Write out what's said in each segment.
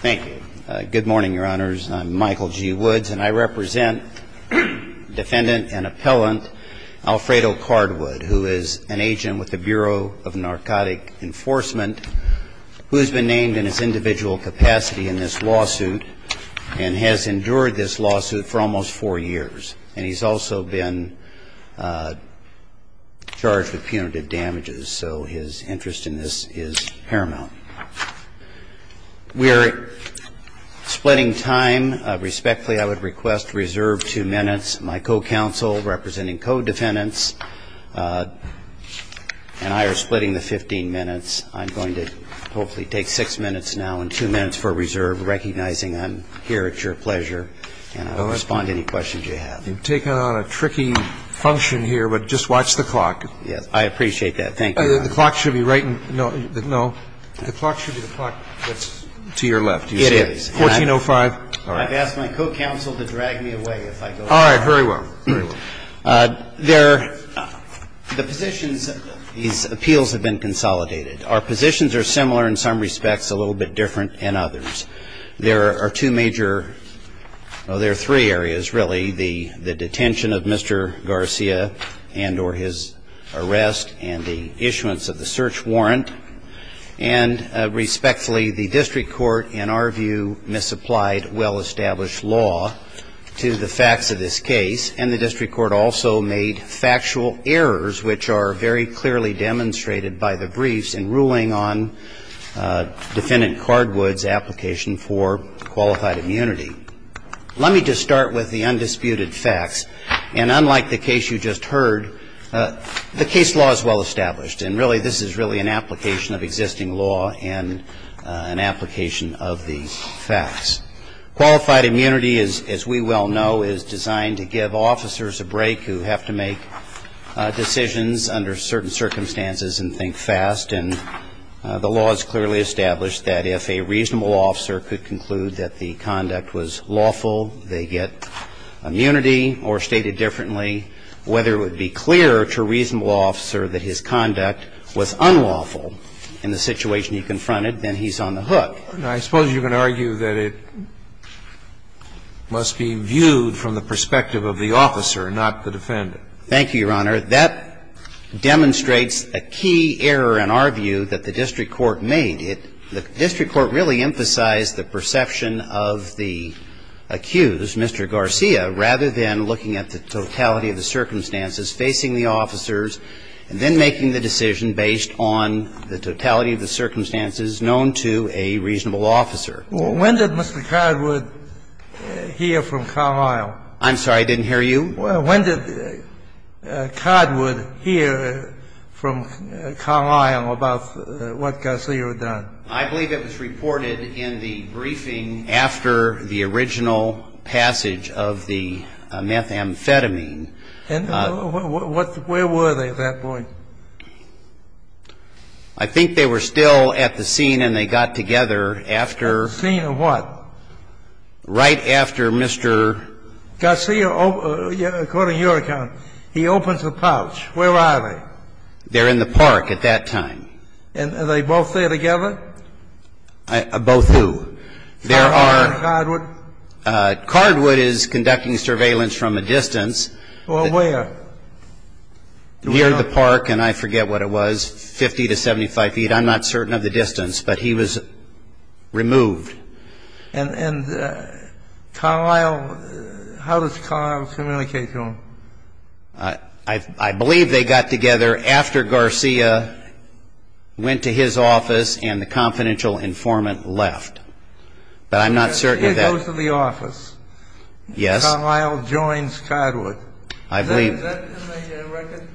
Thank you. Good morning, your honors. I'm Michael G. Woods, and I represent defendant and appellant Alfredo Cardwood, who is an agent with the Bureau of Narcotic Enforcement, who has been named in his individual capacity in this lawsuit and has endured this lawsuit for almost four years. And he's also been charged with punitive damages, so his interest in this is paramount. We are splitting time. Respectfully, I would request reserve two minutes. My co-counsel, representing co-defendants, and I are splitting the 15 minutes. I'm going to hopefully take six minutes now and two minutes for reserve, recognizing I'm here at your pleasure, and I'll respond to any questions you have. You've taken on a tricky function here, but just watch the clock. Yes, I appreciate that. Thank you. The clock should be right. No. The clock should be the clock that's to your left. It is. 1405. I've asked my co-counsel to drag me away if I go wrong. All right. Very well. The positions of these appeals have been consolidated. Our positions are similar in some respects, a little bit different in others. There are two major or there are three areas, really, the detention of Mr. Garcia and or his arrest and the issuance of the search warrant. And respectfully, the district court, in our view, misapplied well-established law to the facts of this case. And the district court also made factual errors, which are very clearly demonstrated by the briefs in ruling on Defendant Cardwood's application for qualified immunity. Let me just start with the undisputed facts. And unlike the case you just heard, the case law is well-established. And really, this is really an application of existing law and an application of the facts. Qualified immunity, as we well know, is designed to give officers a break who have to make decisions under certain circumstances and think fast. And the law is clearly established that if a reasonable officer could conclude that the conduct was lawful, they get immunity or stated differently. Whether it would be clear to a reasonable officer that his conduct was unlawful in the situation he confronted, then he's on the hook. I suppose you're going to argue that it must be viewed from the perspective of the officer, not the defendant. Thank you, Your Honor. That demonstrates a key error in our view that the district court made. The district court really emphasized the perception of the accused, Mr. Garcia, rather than looking at the totality of the circumstances, facing the officers, and then making the decision based on the totality of the circumstances known to a reasonable officer. When did Mr. Cardwood hear from Carlisle? I'm sorry. I didn't hear you. When did Cardwood hear from Carlisle about what Garcia had done? I believe it was reported in the briefing after the original passage of the methamphetamine. And where were they at that point? I think they were still at the scene and they got together after the scene of what? Right after Mr. Garcia, according to your account, he opens the pouch. Where are they? They're in the park at that time. And are they both there together? Both who? Carlisle and Cardwood? Cardwood is conducting surveillance from a distance. Or where? Near the park, and I forget what it was, 50 to 75 feet. I'm not certain of the distance, but he was removed. And Carlisle, how does Carlisle communicate to him? I believe they got together after Garcia went to his office and the confidential informant left. But I'm not certain of that. He goes to the office. Yes. Carlisle joins Cardwood. I believe. Is that in the record?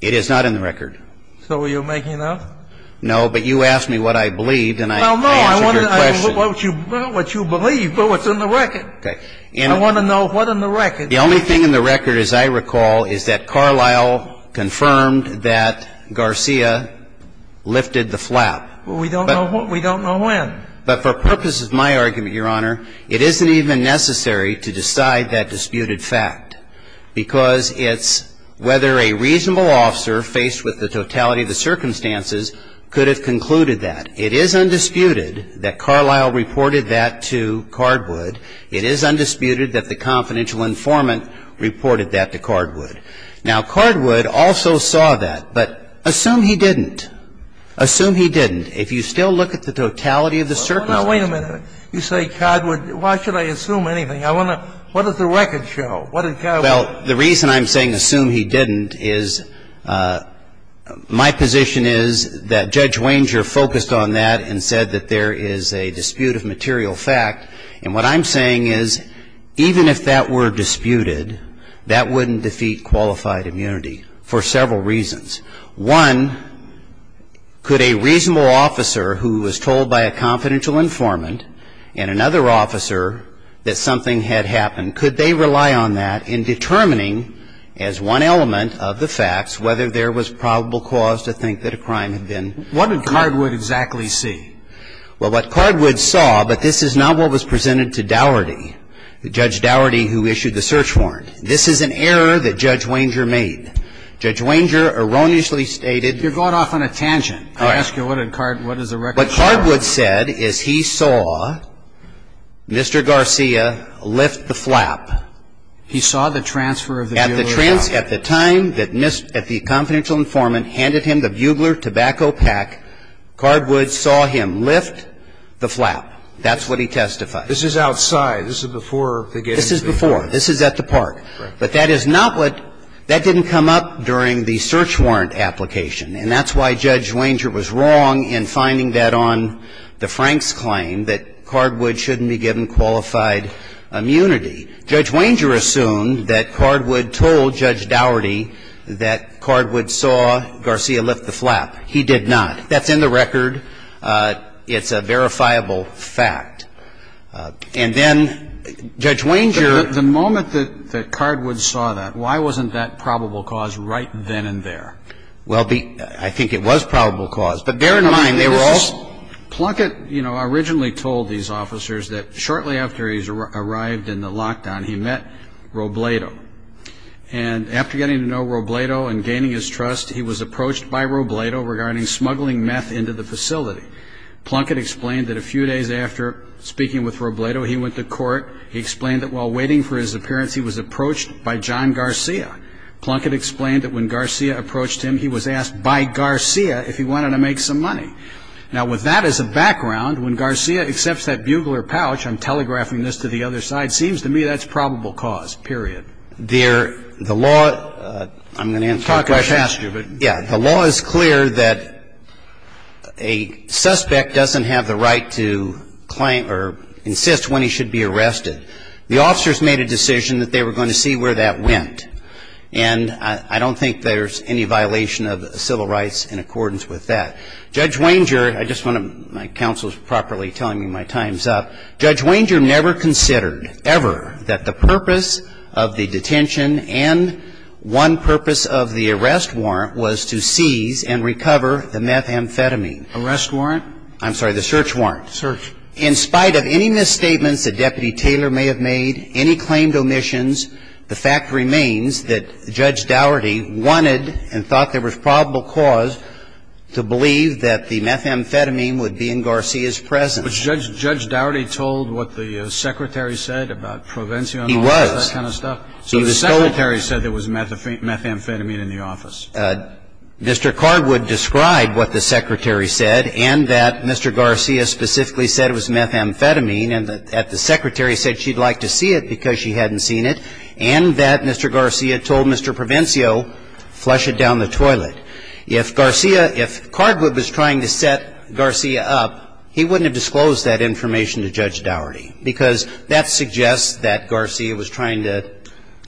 It is not in the record. So are you making an oath? No, but you asked me what I believed and I answered your question. No, no, I want to know what you believe, what's in the record. Okay. I want to know what's in the record. The only thing in the record, as I recall, is that Carlisle confirmed that Garcia lifted the flap. We don't know when. But for purposes of my argument, Your Honor, it isn't even necessary to decide that disputed fact, because it's whether a reasonable officer faced with the totality of the circumstances could have concluded that. It is undisputed that Carlisle reported that to Cardwood. It is undisputed that the confidential informant reported that to Cardwood. Now, Cardwood also saw that, but assume he didn't. Assume he didn't. If you still look at the totality of the circumstances. Now, wait a minute. You say Cardwood. Why should I assume anything? I want to know. What does the record show? What did Cardwood say? Well, the reason I'm saying assume he didn't is my position is that Judge Wanger focused on that and said that there is a dispute of material fact. And what I'm saying is even if that were disputed, that wouldn't defeat qualified immunity for several reasons. One, could a reasonable officer who was told by a confidential informant and another officer that something had happened, could they rely on that in determining as one element of the facts whether there was probable cause to think that a crime had been committed? What did Cardwood exactly see? Well, what Cardwood saw, but this is not what was presented to Dougherty, Judge Dougherty who issued the search warrant. This is an error that Judge Wanger made. Judge Wanger erroneously stated. You're going off on a tangent. All right. I ask you, what did Cardwood, what does the record show? What Cardwood said is he saw Mr. Garcia lift the flap. He saw the transfer of the bugler pack. At the time that the confidential informant handed him the bugler tobacco pack, Cardwood saw him lift the flap. That's what he testified. This is outside. This is before the getting of the bugler. This is before. This is at the park. Right. But that is not what, that didn't come up during the search warrant application and that's why Judge Wanger was wrong in finding that on the Frank's claim that Cardwood shouldn't be given qualified immunity. Judge Wanger assumed that Cardwood told Judge Dougherty that Cardwood saw Garcia lift the flap. He did not. That's in the record. It's a verifiable fact. And then Judge Wanger. The moment that Cardwood saw that, why wasn't that probable cause right then and there? Well, I think it was probable cause. But bear in mind, they were all. Plunkett, you know, originally told these officers that shortly after he arrived in the lockdown, he met Robledo. And after getting to know Robledo and gaining his trust, he was approached by Robledo regarding smuggling meth into the facility. Plunkett explained that a few days after speaking with Robledo, he went to court. He explained that while waiting for his appearance, he was approached by John Garcia. Plunkett explained that when Garcia approached him, he was asked by Garcia if he wanted to make some money. Now, with that as a background, when Garcia accepts that bugler pouch, I'm telegraphing this to the other side, seems to me that's probable cause, period. The law, I'm going to answer your question. Yeah, the law is clear that a suspect doesn't have the right to claim or insist when he should be arrested. The officers made a decision that they were going to see where that went. And I don't think there's any violation of civil rights in accordance with that. Judge Wanger, I just want to, my counsel is properly telling me my time's up. Judge Wanger never considered ever that the purpose of the detention and one purpose of the arrest warrant was to seize and recover the meth amphetamine. Arrest warrant? I'm sorry, the search warrant. Search. In spite of any misstatements that Deputy Taylor may have made, any claimed omissions, the fact remains that Judge Daugherty wanted and thought there was probable cause to believe that the meth amphetamine would be in Garcia's presence. Was Judge Daugherty told what the secretary said about Provencio and all that kind of stuff? He was. So the secretary said there was meth amphetamine in the office. Mr. Cardwood described what the secretary said and that Mr. Garcia specifically said it was meth amphetamine and that the secretary said she'd like to see it because she hadn't seen it and that Mr. Garcia told Mr. Provencio flush it down the toilet. If Garcia, if Cardwood was trying to set Garcia up, he wouldn't have disclosed that information to Judge Daugherty because that suggests that Garcia was trying to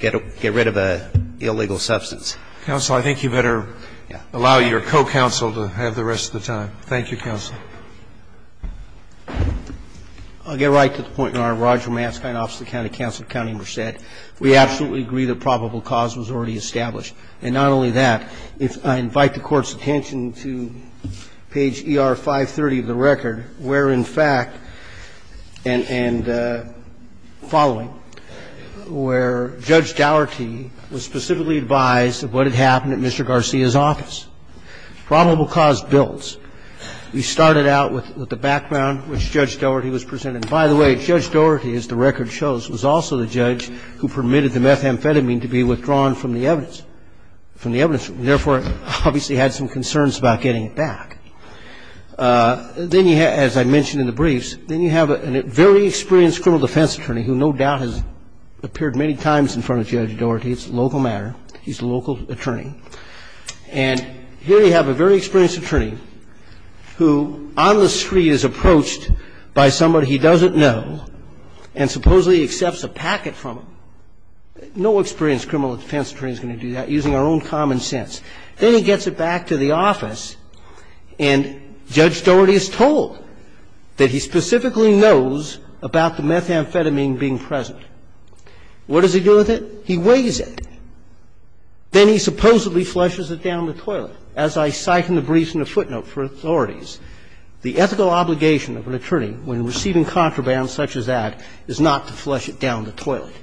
get rid of an illegal substance. Counsel, I think you better allow your co-counsel to have the rest of the time. Thank you, counsel. I'll get right to the point, Your Honor. Roger Matzke and Officer of the County Counsel at County Merced, we absolutely agree that probable cause was already established. And not only that, if I invite the Court's attention to page ER530 of the record, where in fact, and following, where Judge Daugherty was specifically advised of what had happened at Mr. Garcia's office. Probable cause builds. We started out with the background which Judge Daugherty was presented. By the way, Judge Daugherty, as the record shows, was also the judge who permitted the meth amphetamine to be withdrawn from the evidence, from the evidence. We therefore obviously had some concerns about getting it back. Then you have, as I mentioned in the briefs, then you have a very experienced criminal defense attorney who no doubt has appeared many times in front of Judge Daugherty. It's a local matter. He's a local attorney. And here you have a very experienced attorney who on the street is approached by somebody he doesn't know and supposedly accepts a packet from him. No experienced criminal defense attorney is going to do that, using our own common sense. Then he gets it back to the office and Judge Daugherty is told that he specifically knows about the meth amphetamine being present. What does he do with it? He weighs it. Then he supposedly flushes it down the toilet. As I cite in the briefs and the footnote for authorities, the ethical obligation of an attorney when receiving contraband such as that is not to flush it down the toilet,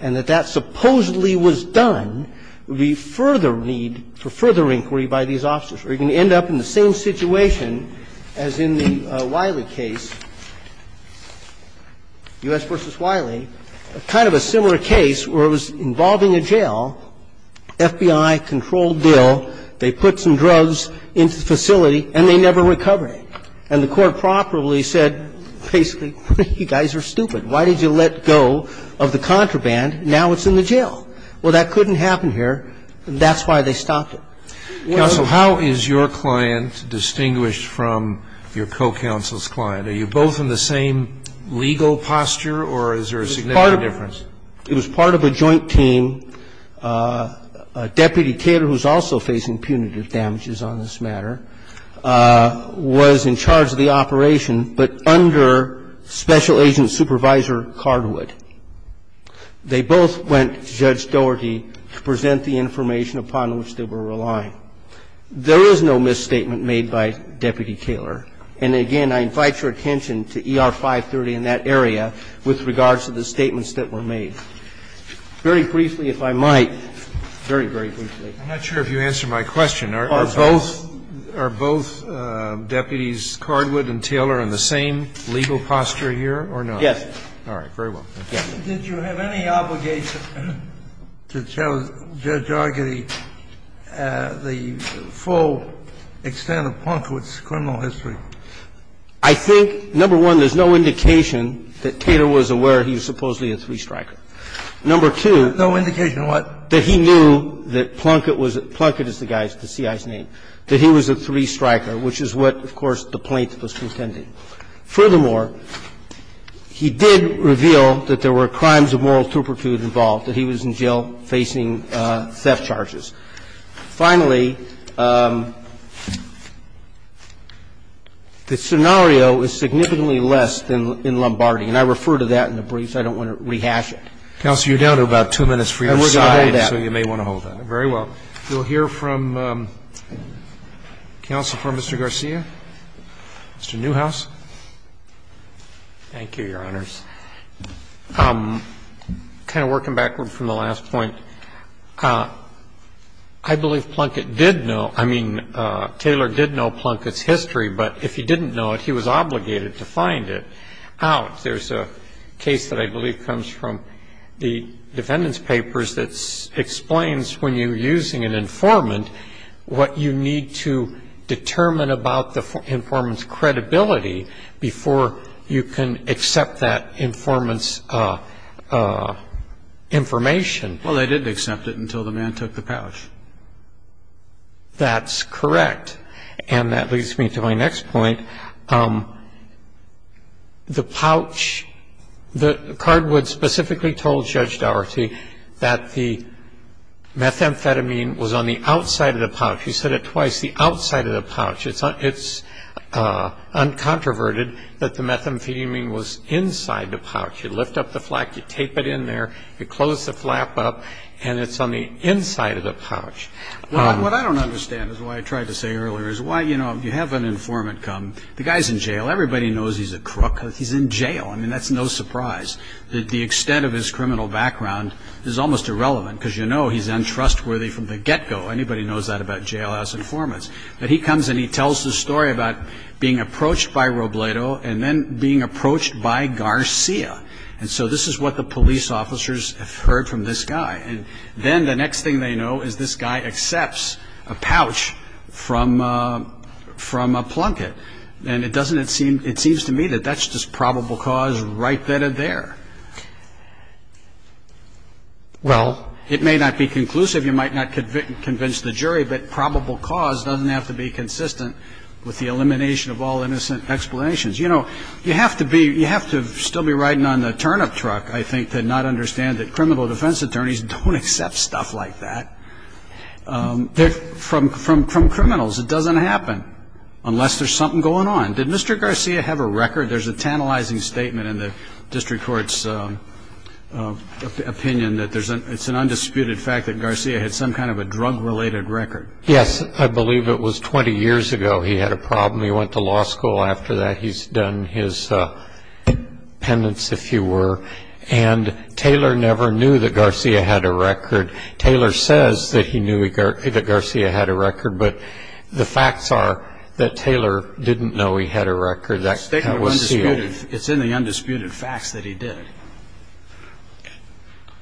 and that that supposedly was done would be further need for further inquiry by these officers. Or you're going to end up in the same situation as in the Wiley case, U.S. v. Wiley, a kind of a similar case where it was involving a jail, FBI-controlled deal, they put some drugs into the facility and they never recovered it. And the court properly said basically, you guys are stupid. Why did you let go of the contraband? Now it's in the jail. Well, that couldn't happen here. That's why they stopped it. Scalia. Counsel, how is your client distinguished from your co-counsel's client? Are you both in the same legal posture, or is there a significant difference? It was part of a joint team. Deputy Kaler, who's also facing punitive damages on this matter, was in charge of the operation, but under Special Agent Supervisor Cardwood. They both went to Judge Doherty to present the information upon which they were relying. There is no misstatement made by Deputy Kaler. And again, I invite your attention to ER 530 in that area with regards to the statements that were made. Very briefly, if I might, very, very briefly. I'm not sure if you answered my question. Are both Deputies Cardwood and Taylor in the same legal posture here or not? Yes. All right. Very well. Did you have any obligation to tell Judge Doherty the full extent of Plunkett's criminal history? I think, number one, there's no indication that Taylor was aware he was supposedly a three-striker. Number two. No indication of what? That he knew that Plunkett was the guy, the CI's name, that he was a three-striker, which is what, of course, the plaintiff was contending. Furthermore, he did reveal that there were crimes of moral turpitude involved, that he was in jail facing theft charges. Finally, the scenario is significantly less than in Lombardi, and I refer to that in the briefs. I don't want to rehash it. Counsel, you're down to about two minutes for your side. And we're going to hold that. So you may want to hold that. Very well. We'll hear from counsel for Mr. Garcia, Mr. Newhouse. Thank you, Your Honors. I'm kind of working backward from the last point. I believe Plunkett did know. I mean, Taylor did know Plunkett's history. But if he didn't know it, he was obligated to find it out. There's a case that I believe comes from the defendant's papers that explains, when you're using an informant, what you need to determine about the informant's information. Well, they didn't accept it until the man took the pouch. That's correct. And that leads me to my next point. The pouch, Cardwood specifically told Judge Daugherty that the methamphetamine was on the outside of the pouch. He said it twice, the outside of the pouch. It's uncontroverted that the methamphetamine was inside the pouch. You lift up the flap, you tape it in there, you close the flap up, and it's on the inside of the pouch. What I don't understand, is what I tried to say earlier, is why, you know, you have an informant come. The guy's in jail. Everybody knows he's a crook. He's in jail. I mean, that's no surprise. The extent of his criminal background is almost irrelevant, because you know he's untrustworthy from the get-go. Anybody knows that about jailhouse informants. But he comes and he tells the story about being approached by Robledo and then being approached by Garcia. And so this is what the police officers have heard from this guy. And then the next thing they know is this guy accepts a pouch from a plunket. And it seems to me that that's just probable cause right then and there. Well, it may not be conclusive, you might not convince the jury, but probable cause doesn't have to be consistent with the elimination of all innocent explanations. You know, you have to still be riding on the turnip truck, I think, to not understand that criminal defense attorneys don't accept stuff like that from criminals. It doesn't happen unless there's something going on. Did Mr. Garcia have a record? There's a tantalizing statement in the district court's opinion that it's an undisputed fact that Garcia had some kind of a drug-related record. Yes, I believe it was 20 years ago he had a problem. He went to law school after that. He's done his penance, if you were. And Taylor never knew that Garcia had a record. Taylor says that he knew that Garcia had a record, but the facts are that Taylor didn't know he had a record that was sealed. It's in the undisputed facts that he did.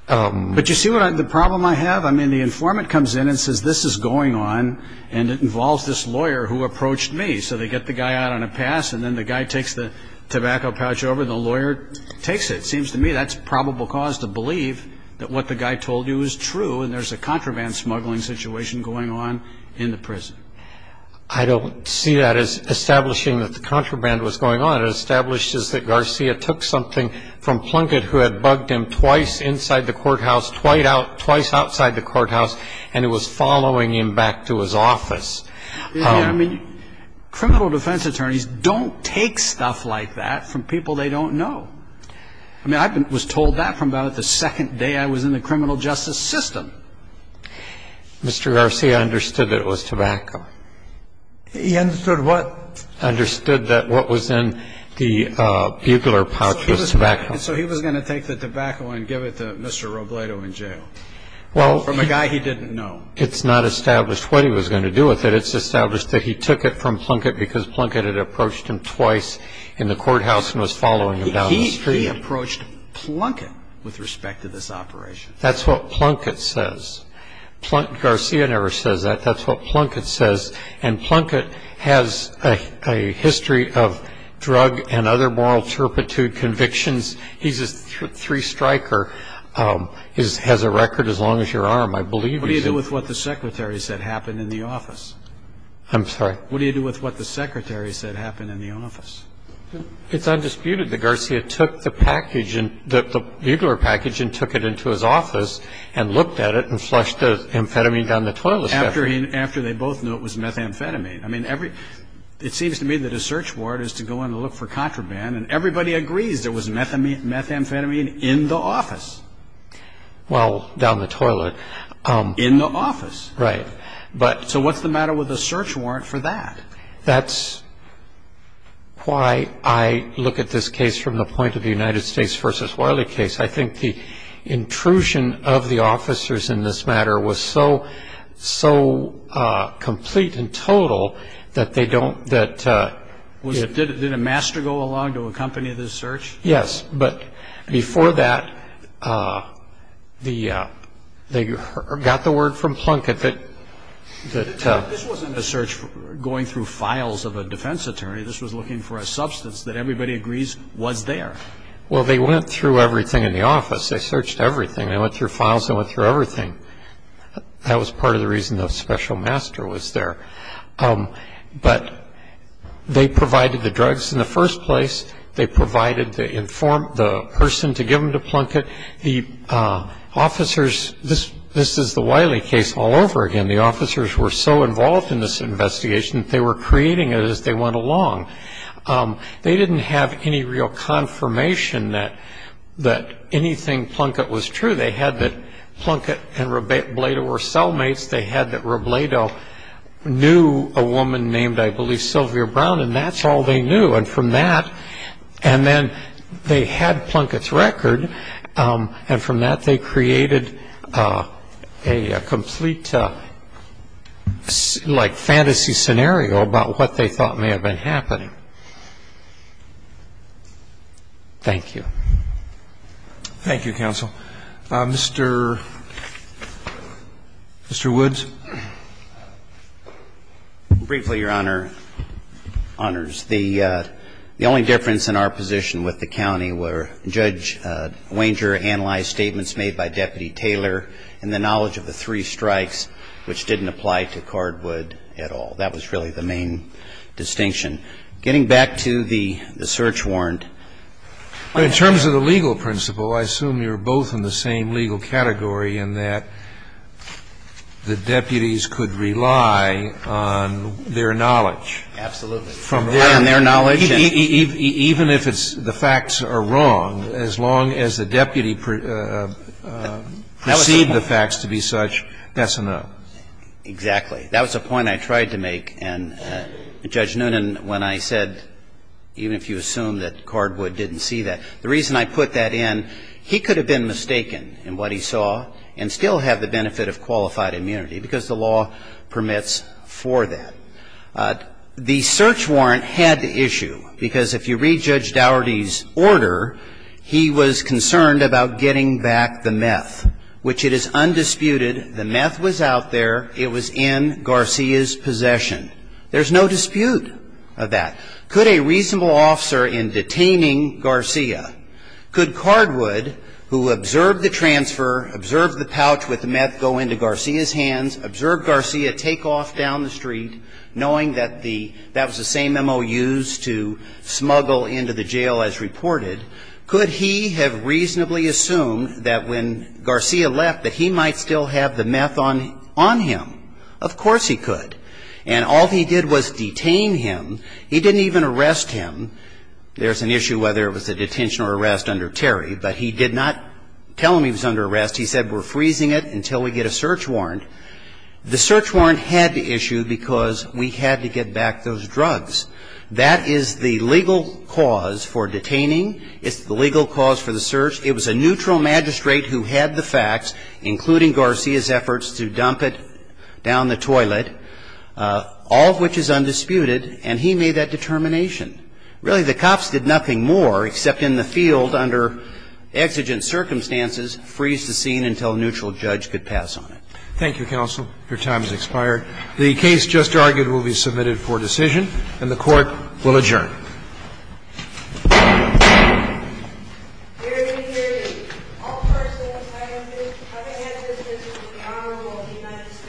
But you see the problem I have? I mean, the informant comes in and says this is going on, and it involves this lawyer who approached me. So they get the guy out on a pass, and then the guy takes the tobacco pouch over, and the lawyer takes it. It seems to me that's probable cause to believe that what the guy told you is true, and there's a contraband smuggling situation going on in the prison. I don't see that as establishing that the contraband was going on. What it established is that Garcia took something from Plunkett, who had bugged him twice inside the courthouse, twice outside the courthouse, and was following him back to his office. I mean, criminal defense attorneys don't take stuff like that from people they don't know. I mean, I was told that from about the second day I was in the criminal justice system. Mr. Garcia understood that it was tobacco. He understood what? He understood that what was in the bugler pouch was tobacco. So he was going to take the tobacco and give it to Mr. Robledo in jail from a guy he didn't know. Well, it's not established what he was going to do with it. It's established that he took it from Plunkett because Plunkett had approached him twice in the courthouse and was following him down the street. He approached Plunkett with respect to this operation. That's what Plunkett says. Garcia never says that. That's what Plunkett says. And Plunkett has a history of drug and other moral turpitude convictions. He's a three-striker. He has a record as long as your arm, I believe. What do you do with what the secretary said happened in the office? I'm sorry? What do you do with what the secretary said happened in the office? It's undisputed that Garcia took the package, the bugler package, and took it into his office and looked at it and flushed the amphetamine down the toilet. After they both knew it was methamphetamine. I mean, it seems to me that a search warrant is to go in and look for contraband, and everybody agrees there was methamphetamine in the office. Well, down the toilet. In the office. Right. So what's the matter with a search warrant for that? That's why I look at this case from the point of the United States v. Wiley case. I think the intrusion of the officers in this matter was so complete and total that they don't, that... Did a master go along to accompany this search? Yes. But before that, they got the word from Plunkett that... This wasn't a search going through files of a defense attorney. This was looking for a substance that everybody agrees was there. Well, they went through everything in the office. They searched everything. They went through files. They went through everything. That was part of the reason the special master was there. But they provided the drugs in the first place. They provided the person to give them to Plunkett. The officers... This is the Wiley case all over again. The officers were so involved in this investigation that they were creating it as they went along. They didn't have any real confirmation that anything Plunkett was true. They had that Plunkett and Robledo were cellmates. They had that Robledo knew a woman named, I believe, Sylvia Brown. And that's all they knew. And from that... And then they had Plunkett's record. And from that, they created a complete, like, fantasy scenario about what they thought may have been happening. Thank you. Thank you, counsel. Mr. Woods. Briefly, Your Honor. Honors, the only difference in our position with the county were Judge Wanger analyzed statements made by Deputy Taylor and the knowledge of the three strikes, which didn't apply to Cardwood at all. That was really the main distinction. Getting back to the search warrant. In terms of the legal principle, I assume you're both in the same legal category in that the deputies could rely on their knowledge. Absolutely. On their knowledge. Even if the facts are wrong, as long as the deputy perceived the facts to be such, that's enough. Exactly. That was a point I tried to make. And Judge Noonan, when I said, even if you assume that Cardwood didn't see that, the reason I put that in, he could have been mistaken in what he saw and still have the benefit of qualified immunity because the law permits for that. The search warrant had the issue, because if you read Judge Dougherty's order, he was concerned about getting back the meth, which it is undisputed the meth was out there. It was in Garcia's possession. There's no dispute of that. Could a reasonable officer in detaining Garcia, could Cardwood, who observed the transfer, observed the pouch with the meth go into Garcia's hands, observed Garcia take off down the street, knowing that the that was the same MOUs to smuggle into the jail as reported, could he have reasonably assumed that when Garcia left, that he might still have the meth on him? Of course he could. And all he did was detain him. He didn't even arrest him. There's an issue whether it was a detention or arrest under Terry. But he did not tell him he was under arrest. He said, we're freezing it until we get a search warrant. The search warrant had the issue because we had to get back those drugs. That is the legal cause for detaining. It's the legal cause for the search. It was a neutral magistrate who had the facts, including Garcia's efforts to dump it down the toilet, all of which is undisputed. And he made that determination. Really, the cops did nothing more except in the field under exigent circumstances freeze the scene until a neutral judge could pass on it. Thank you, counsel. Your time has expired. The case just argued will be submitted for decision. And the Court will adjourn. Hear me, hear me. All person entitled to have a hand in this case is an honorable United States citizen.